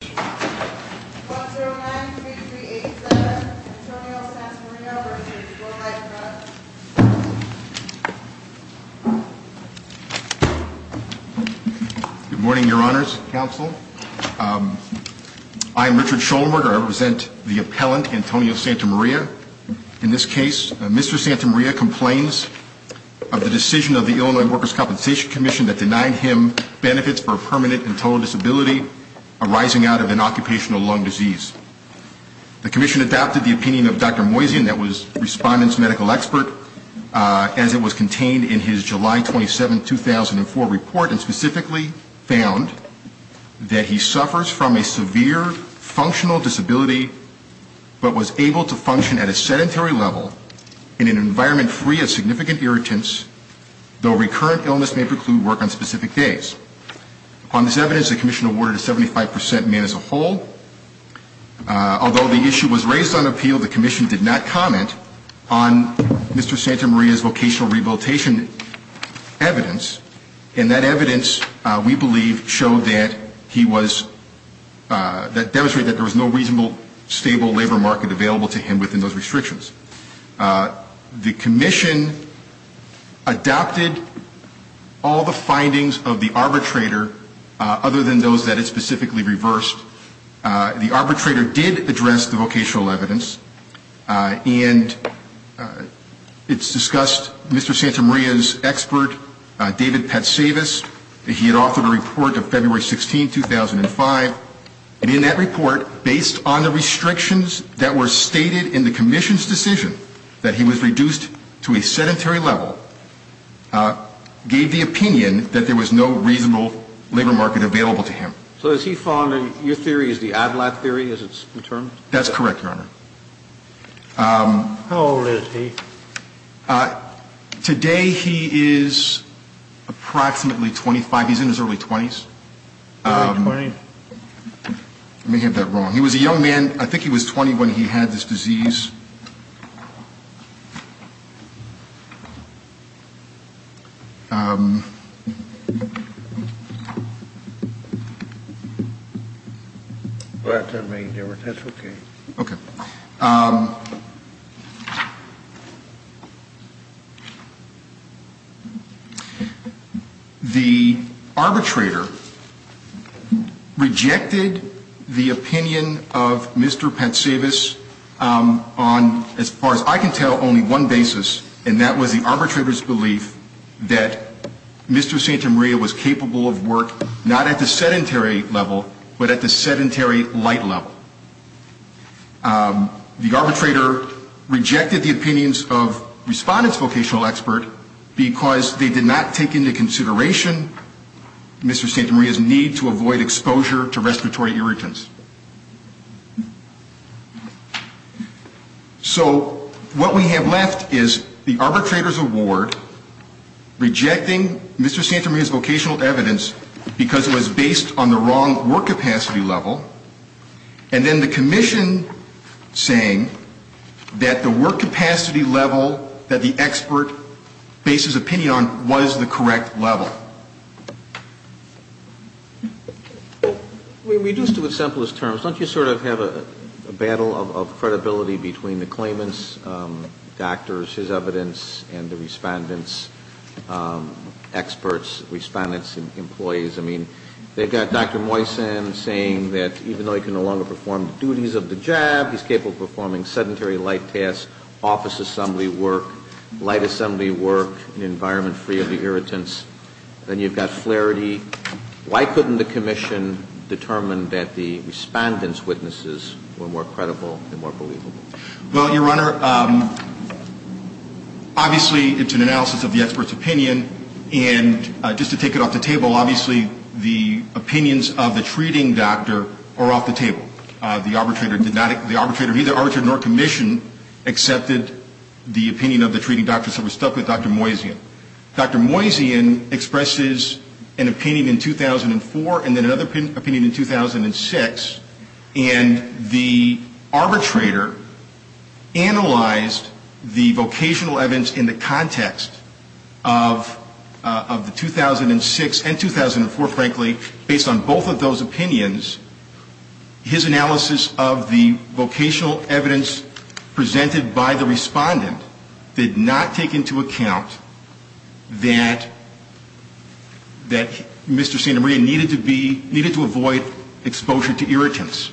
Good morning, your honors, counsel. I'm Richard Schoenberg. I represent the appellant, Antonio Santamaria. In this case, Mr. Santamaria complains of the decision of the Illinois Workers' Compensation Commission that denied him benefits for a permanent and total disability arising out of an occupational lung disease. The Commission adopted the opinion of Dr. Moiseon, that was Respondent's medical expert, as it was contained in his July 27, 2004, report and specifically found that he suffers from a severe functional disability but was able to function at a sedentary level in an environment free of significant irritants, though recurrent illness may preclude work on specific days. On this evidence, the Commission awarded a 75% man as a whole. Although the issue was raised on appeal, the Commission did not comment on Mr. Santamaria's vocational rehabilitation evidence, and that evidence, we believe, showed that he was, that demonstrated that there was no reasonable, stable labor market available to him within those restrictions. The Commission adopted all the findings of the arbitrator other than those that it specifically reversed. The arbitrator did address the vocational evidence, and it's discussed Mr. Santamaria's expert, David Patsavis. He had authored a report of February 16, 2005, and in that report, based on the restrictions that were stated in the Commission's decision that he was reduced to a sedentary level, gave the opinion that there was no reasonable labor market available to him. So is he fond of, your theory is the ADLAT theory, as it's been termed? That's correct, Your Honor. How old is he? Today he is approximately 25. He's in his early 20s. Early 20s? I may have that wrong. He was a young man. I think he was 20 when he had this disease. The arbitrator rejected the opinion of Mr. Patsavis on, as far as I can tell, only one Mr. Santamaria was capable of work not at the sedentary level, but at the sedentary light level. The arbitrator rejected the opinions of Respondent's vocational expert because they did not take into consideration Mr. Santamaria's need to avoid exposure to respiratory irritants. So what we have left is the arbitrator's award rejecting Mr. Santamaria's vocational evidence because it was based on the wrong work capacity level, and then the Commission saying that the work capacity level that the expert based his opinion on was the correct level. Well, reduced to the simplest terms, don't you sort of have a battle of credibility between the claimant's doctors, his evidence, and the Respondent's experts, Respondent's employees? I mean, they've got Dr. Moysen saying that even though he can no longer perform the duties of the job, he's capable of performing sedentary light tasks, office assembly work, light assembly work, and environment-free of the irritants. Then you've got Flaherty. Why couldn't the Commission determine that the Respondent's witnesses were more credible and more believable? Well, Your Honor, obviously, it's an analysis of the expert's opinion. And just to take it off the table, obviously, the opinions of the treating doctor are off the table. The arbitrator did not – the arbitrator, neither arbitrator nor Commission, accepted the opinion of the treating doctor, so we're stuck with Dr. Moysen. Dr. Moysen expresses an opinion in 2004 and then another opinion in 2006. And the arbitrator analyzed the vocational evidence in the context of the 2006 and 2004, frankly, based on both of those opinions. His analysis of the vocational evidence presented by the Respondent did not take into account that Mr. Santamaria needed to be – needed to avoid exposure to irritants.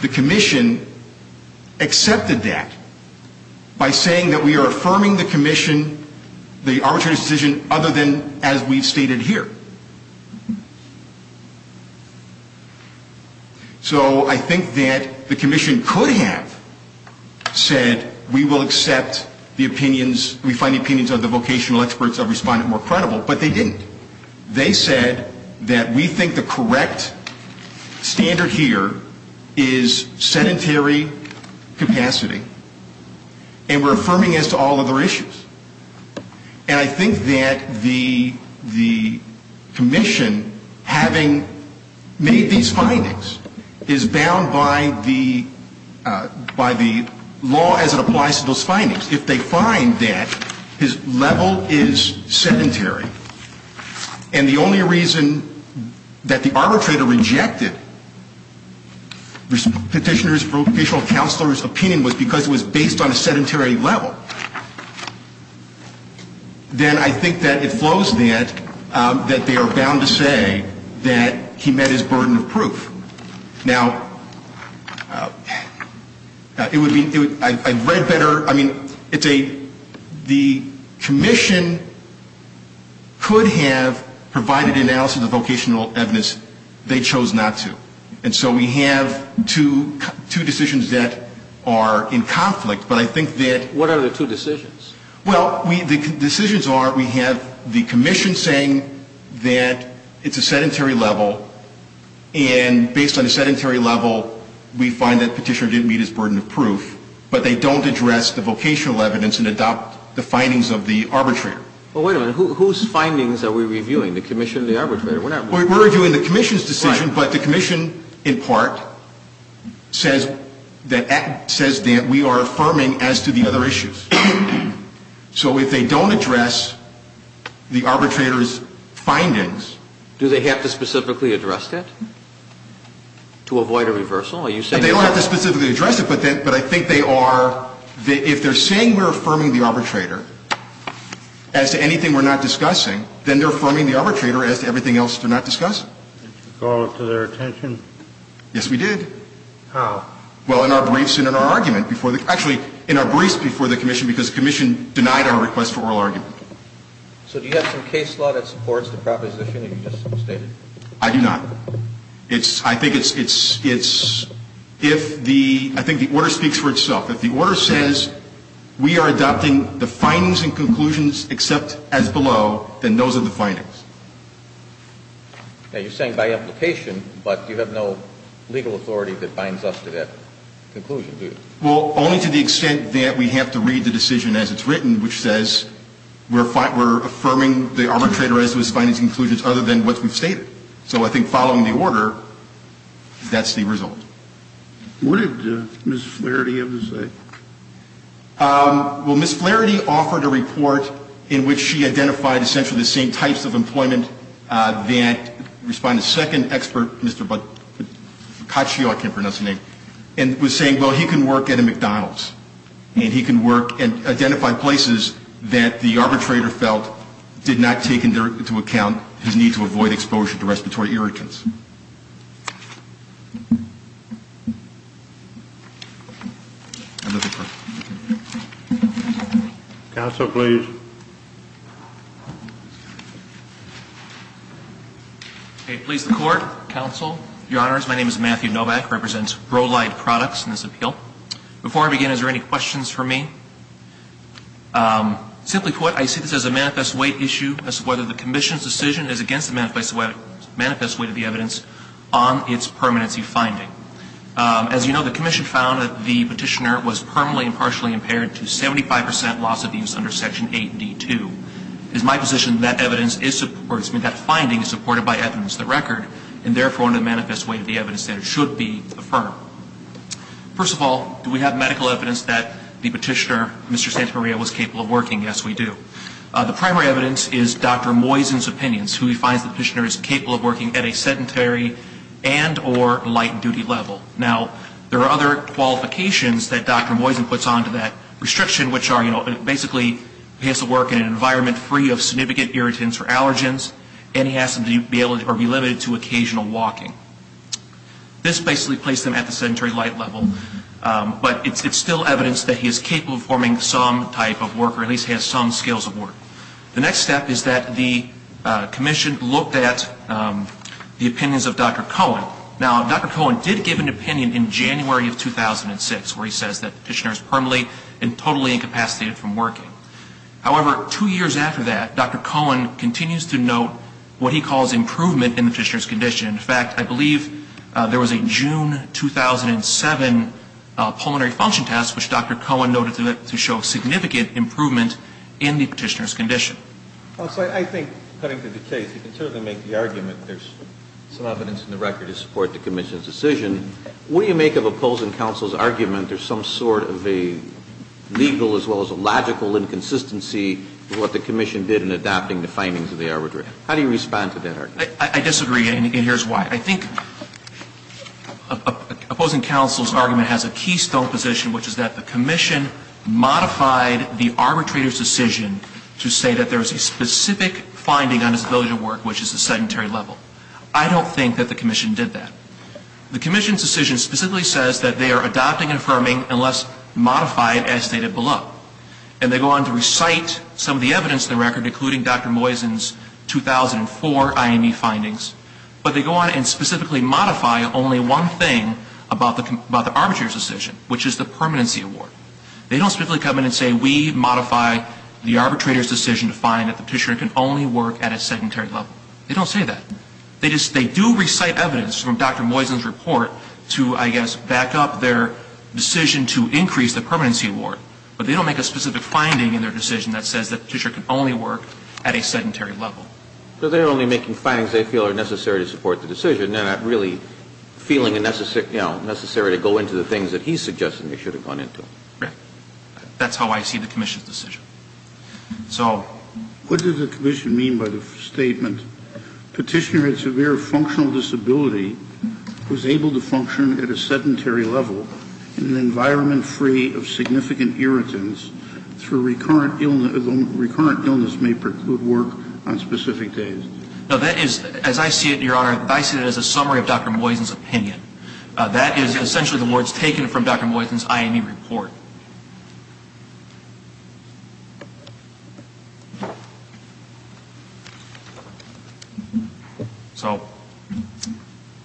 The Commission accepted that by saying that we are affirming the Commission, the arbitrator's decision, other than as we've stated here. So I think that the Commission could have said we will accept the opinions – we find the opinions of the vocational experts of Respondent more credible, but they didn't. They said that we think the correct standard here is sedentary capacity and we're affirming as to all other issues. And I think that the Commission, having made these findings, is bound by the – by the law as it applies to those findings. If they find that his level is sedentary and the only reason that the arbitrator rejected Petitioner's vocational counselor's opinion was because it was based on a sedentary level, then I think that it flows that they are bound to say that he met his burden of proof. Now, it would be – I've read better – I mean, it's a – the Commission could have provided analysis of vocational evidence. They chose not to. And so we have two decisions that are in conflict, but I think that – What are the two decisions? Well, the decisions are we have the Commission saying that it's a sedentary level and based on a sedentary level, we find that Petitioner didn't meet his burden of proof, but they don't address the vocational evidence and adopt the findings of the arbitrator. Well, wait a minute. Whose findings are we reviewing? The Commission or the arbitrator? We're not reviewing the Commission's decision, but the Commission, in part, says that – says that we are affirming as to the other issues. So if they don't address the arbitrator's findings – Do they have to specifically address that to avoid a reversal? Are you saying that – They don't have to specifically address it, but I think they are – if they're saying we're affirming the arbitrator as to anything we're not discussing, then they're affirming the arbitrator as to everything else they're not discussing. Did you call it to their attention? Yes, we did. How? Well, in our briefs and in our argument before – actually, in our briefs before the Commission because the Commission denied our request for oral argument. So do you have some case law that supports the proposition that you just stated? I do not. It's – I think it's – it's – if the – I think the order speaks for itself. If we are adopting the findings and conclusions except as below, then those are the findings. Now, you're saying by implication, but you have no legal authority that binds us to that conclusion, do you? Well, only to the extent that we have to read the decision as it's written, which says we're – we're affirming the arbitrator as to his findings and conclusions other than what we've stated. So I think following the order, that's the result. What did Ms. Flaherty have to say? Well, Ms. Flaherty offered a report in which she identified essentially the same types of employment that – respond to the second expert, Mr. Boccaccio, I can't pronounce his name, and was saying, well, he can work at a McDonald's, and he can work – and identify places that the arbitrator felt did not take into account his need to avoid exposure to respiratory irritants. Counsel, please. Okay. Please, the Court, Counsel, Your Honors, my name is Matthew Novak. I represent Roe Light Products in this appeal. Before I begin, is there any questions for me? Simply put, I see this as a manifest weight issue as to whether the Commission's decision is against the manifest weight of the evidence on its permanency finding. As you know, the Commission found that the petitioner was permanently and partially impaired to 75 percent loss of use under Section 8D2. It is my position that evidence is – or that finding is supported by evidence that record, and therefore, under the manifest weight of the evidence that it should be affirmed. First of all, do we have medical evidence that the petitioner, Mr. Santamaria, was capable of working? Yes, we do. The primary evidence is Dr. Moysen's opinions, who he finds the petitioner is capable of working at a sedentary and or light-duty level. Now, there are other qualifications that Dr. Moysen puts onto that restriction, which are, you know, basically he has to work in an environment free of significant irritants or allergens, and he has to be able to – or be limited to occasional walking. This basically placed him at the sedentary light level, but it's still evidence that he is capable of performing some type of work, or at least has some skills of work. The next step is that the Commission looked at the opinions of Dr. Cohen. Now, Dr. Cohen did give an opinion in January of 2006, where he says that the petitioner is permanently and totally incapacitated from working. However, two years after that, Dr. Cohen continues to note what he calls improvement in the petitioner's condition. In fact, I believe there was a 2007 pulmonary function test, which Dr. Cohen noted to show significant improvement in the petitioner's condition. Well, so I think, cutting to the case, you can certainly make the argument there's some evidence in the record to support the Commission's decision. What do you make of opposing counsel's argument there's some sort of a legal as well as a logical inconsistency in what the Commission did in adapting the findings of the arbitration? How do you respond to that argument? I disagree, and here's why. I think opposing counsel's argument has a keystone position, which is that the Commission modified the arbitrator's decision to say that there was a specific finding on his ability to work, which is a sedentary level. I don't think that the Commission did that. The Commission's decision specifically says that they are adopting and affirming unless modified, as stated below. And they go on to recite some of the evidence in the record, including Dr. Moisen's 2004 IME findings, but they go on and specifically modify only one thing about the arbitrator's decision, which is the permanency award. They don't specifically come in and say we modify the arbitrator's decision to find that the petitioner can only work at a sedentary level. They don't say that. They do recite evidence from Dr. Moisen's report to, I guess, back up their decision to increase the permanency award, but they don't make a specific finding in their decision that says that the petitioner can only work at a sedentary level. So they're only making findings they feel are necessary to support the decision. They're not really feeling necessary to go into the things that he's suggesting they should have gone into. Right. That's how I see the Commission's decision. So what does the Commission mean by the statement, Petitioner with severe functional disability was able to function at a sedentary level in an environment free of significant irritants through recurrent illness may preclude work on specific days. No, that is, as I see it, Your Honor, I see it as a summary of Dr. Moisen's opinion. That is essentially the words taken from Dr. Moisen's IME report. So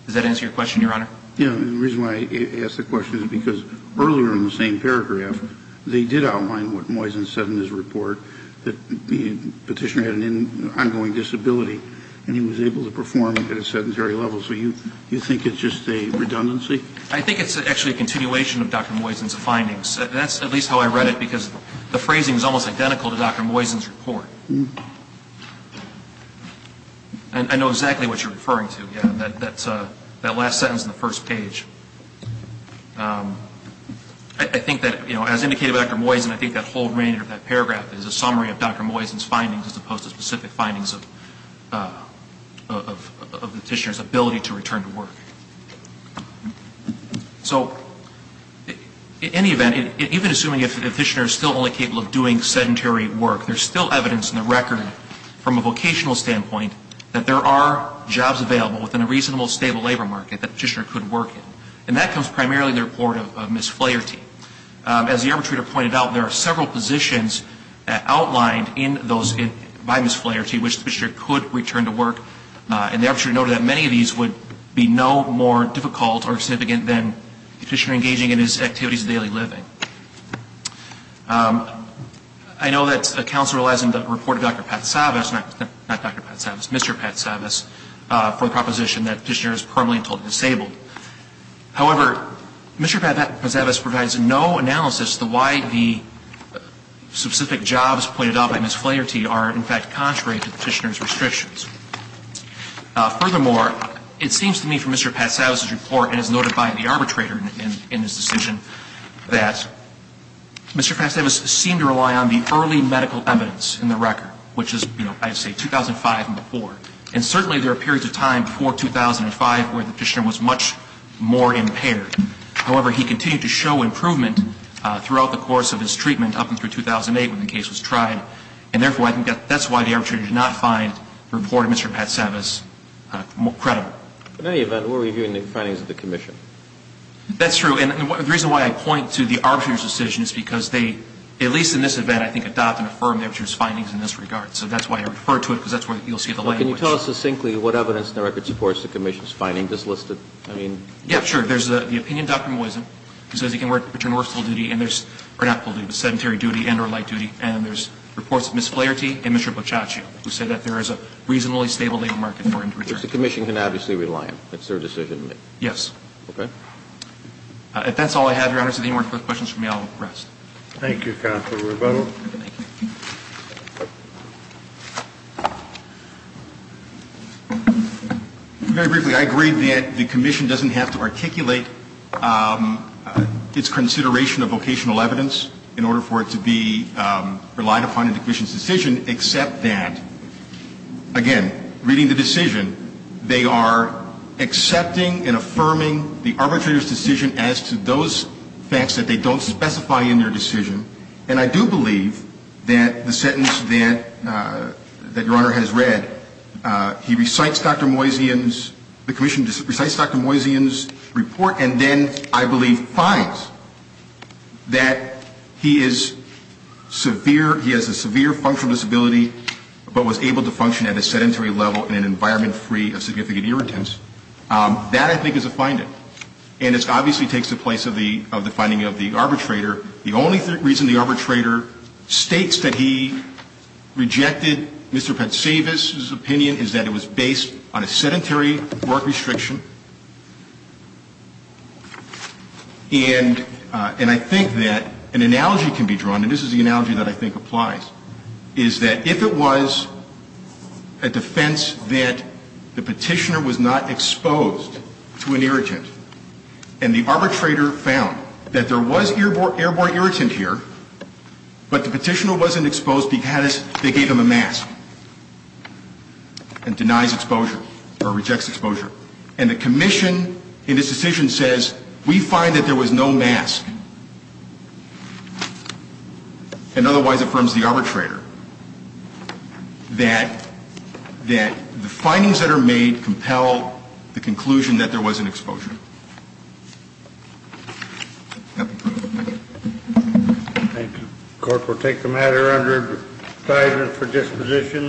does that answer your question, Your Honor? The reason why I ask the question is because earlier in the same paragraph they did outline what Moisen said in his report, that the petitioner had an ongoing disability and he was able to perform at a sedentary level. So you think it's just a redundancy? I think it's actually a continuation of Dr. Moisen's findings. That's at least how I read it because the phrasing is almost identical to Dr. Moisen's report. I know exactly what you're referring to. That last sentence on the first page. I think that, as indicated by Dr. Moisen, I think that whole remainder of that paragraph is a summary of Dr. Moisen's findings as opposed to specific findings of the petitioner's ability to return to work. So in any event, even assuming the petitioner is still only capable of doing sedentary work, there's still evidence in the record from a vocational standpoint that there are jobs available within a reasonable, stable labor market that the petitioner could work in. And that comes primarily in the report of Ms. Flaherty. As the arbitrator pointed out, there are several positions outlined by Ms. Flaherty which the petitioner could return to work. And the arbitrator noted that many of these would be no more difficult or significant than the petitioner engaging in his activities of daily living. I know that counsel relies on the report of Dr. Patsavas, not Dr. Patsavas, Mr. Patsavas, for the proposition that the petitioner is permanently and totally disabled. However, Mr. Patsavas provides no analysis as to why the specific jobs pointed out by Ms. Flaherty are, in fact, contrary to the petitioner's restrictions. Furthermore, it seems to me from Mr. Patsavas' report and as noted by the arbitrator in his decision that Mr. Patsavas seemed to rely on the early medical evidence in the record, which is, you know, I'd say 2005 and before. And certainly there are periods of time before 2005 where the petitioner was much more impaired. However, he continued to show improvement throughout the course of his treatment up until 2008 when the case was tried. And therefore, I think that's why the arbitrator did not find the report of Mr. Patsavas credible. In any event, we're reviewing the findings of the commission. That's true. And the reason why I point to the arbitrator's decision is because they, at least in this event, I think, adopt and affirm the arbitrator's findings in this regard. So that's why I refer to it, because that's where you'll see the language. Well, can you tell us succinctly what evidence in the record supports the commission's finding, just listed? I mean – Yeah, sure. There's the opinion of Dr. Moisen, who says he can return to full duty and there's – or not full duty, but sedentary duty and or light duty. And there's reports of Ms. Flaherty and Mr. Boccaccio, who say that there is a reasonably stable labor market for him to return to. Which the commission can obviously rely on. It's their decision to make. Yes. Okay. If that's all I have, Your Honors. If there are any more questions for me, I'll rest. Thank you, Counselor Rubato. Thank you. Very briefly, I agree that the commission doesn't have to articulate its consideration of vocational evidence in order for it to be relied upon in the commission's decision, except that, again, reading the decision, they are accepting and affirming the arbitrator's decision as to those facts that they don't specify in their decision. And I do believe that the sentence that Your Honor has read, he recites Dr. Moisen's – the commission recites Dr. Moisen's report, and then, I believe, finds that he is severe – he has a severe functional disability, but was able to function at a sedentary level in an environment free of significant irritants. That, I think, is a finding. And it obviously takes the place of the finding of the arbitrator. The only reason the arbitrator states that he rejected Mr. Patsavis's opinion is that it was based on a sedentary work restriction. And I think that an analogy can be drawn, and this is the analogy that I think applies, is that if it was a defense that the Petitioner was not exposed to an irritant, and the arbitrator found that there was airborne irritant here, but the Petitioner wasn't exposed because they gave him a mask and denies exposure or rejects exposure, and the commission in this decision says, we find that there was no mask, and otherwise affirms the arbitrator, that the findings that are made compel the conclusion that there was an exposure. Thank you. The court will take the matter under assignment for disposition.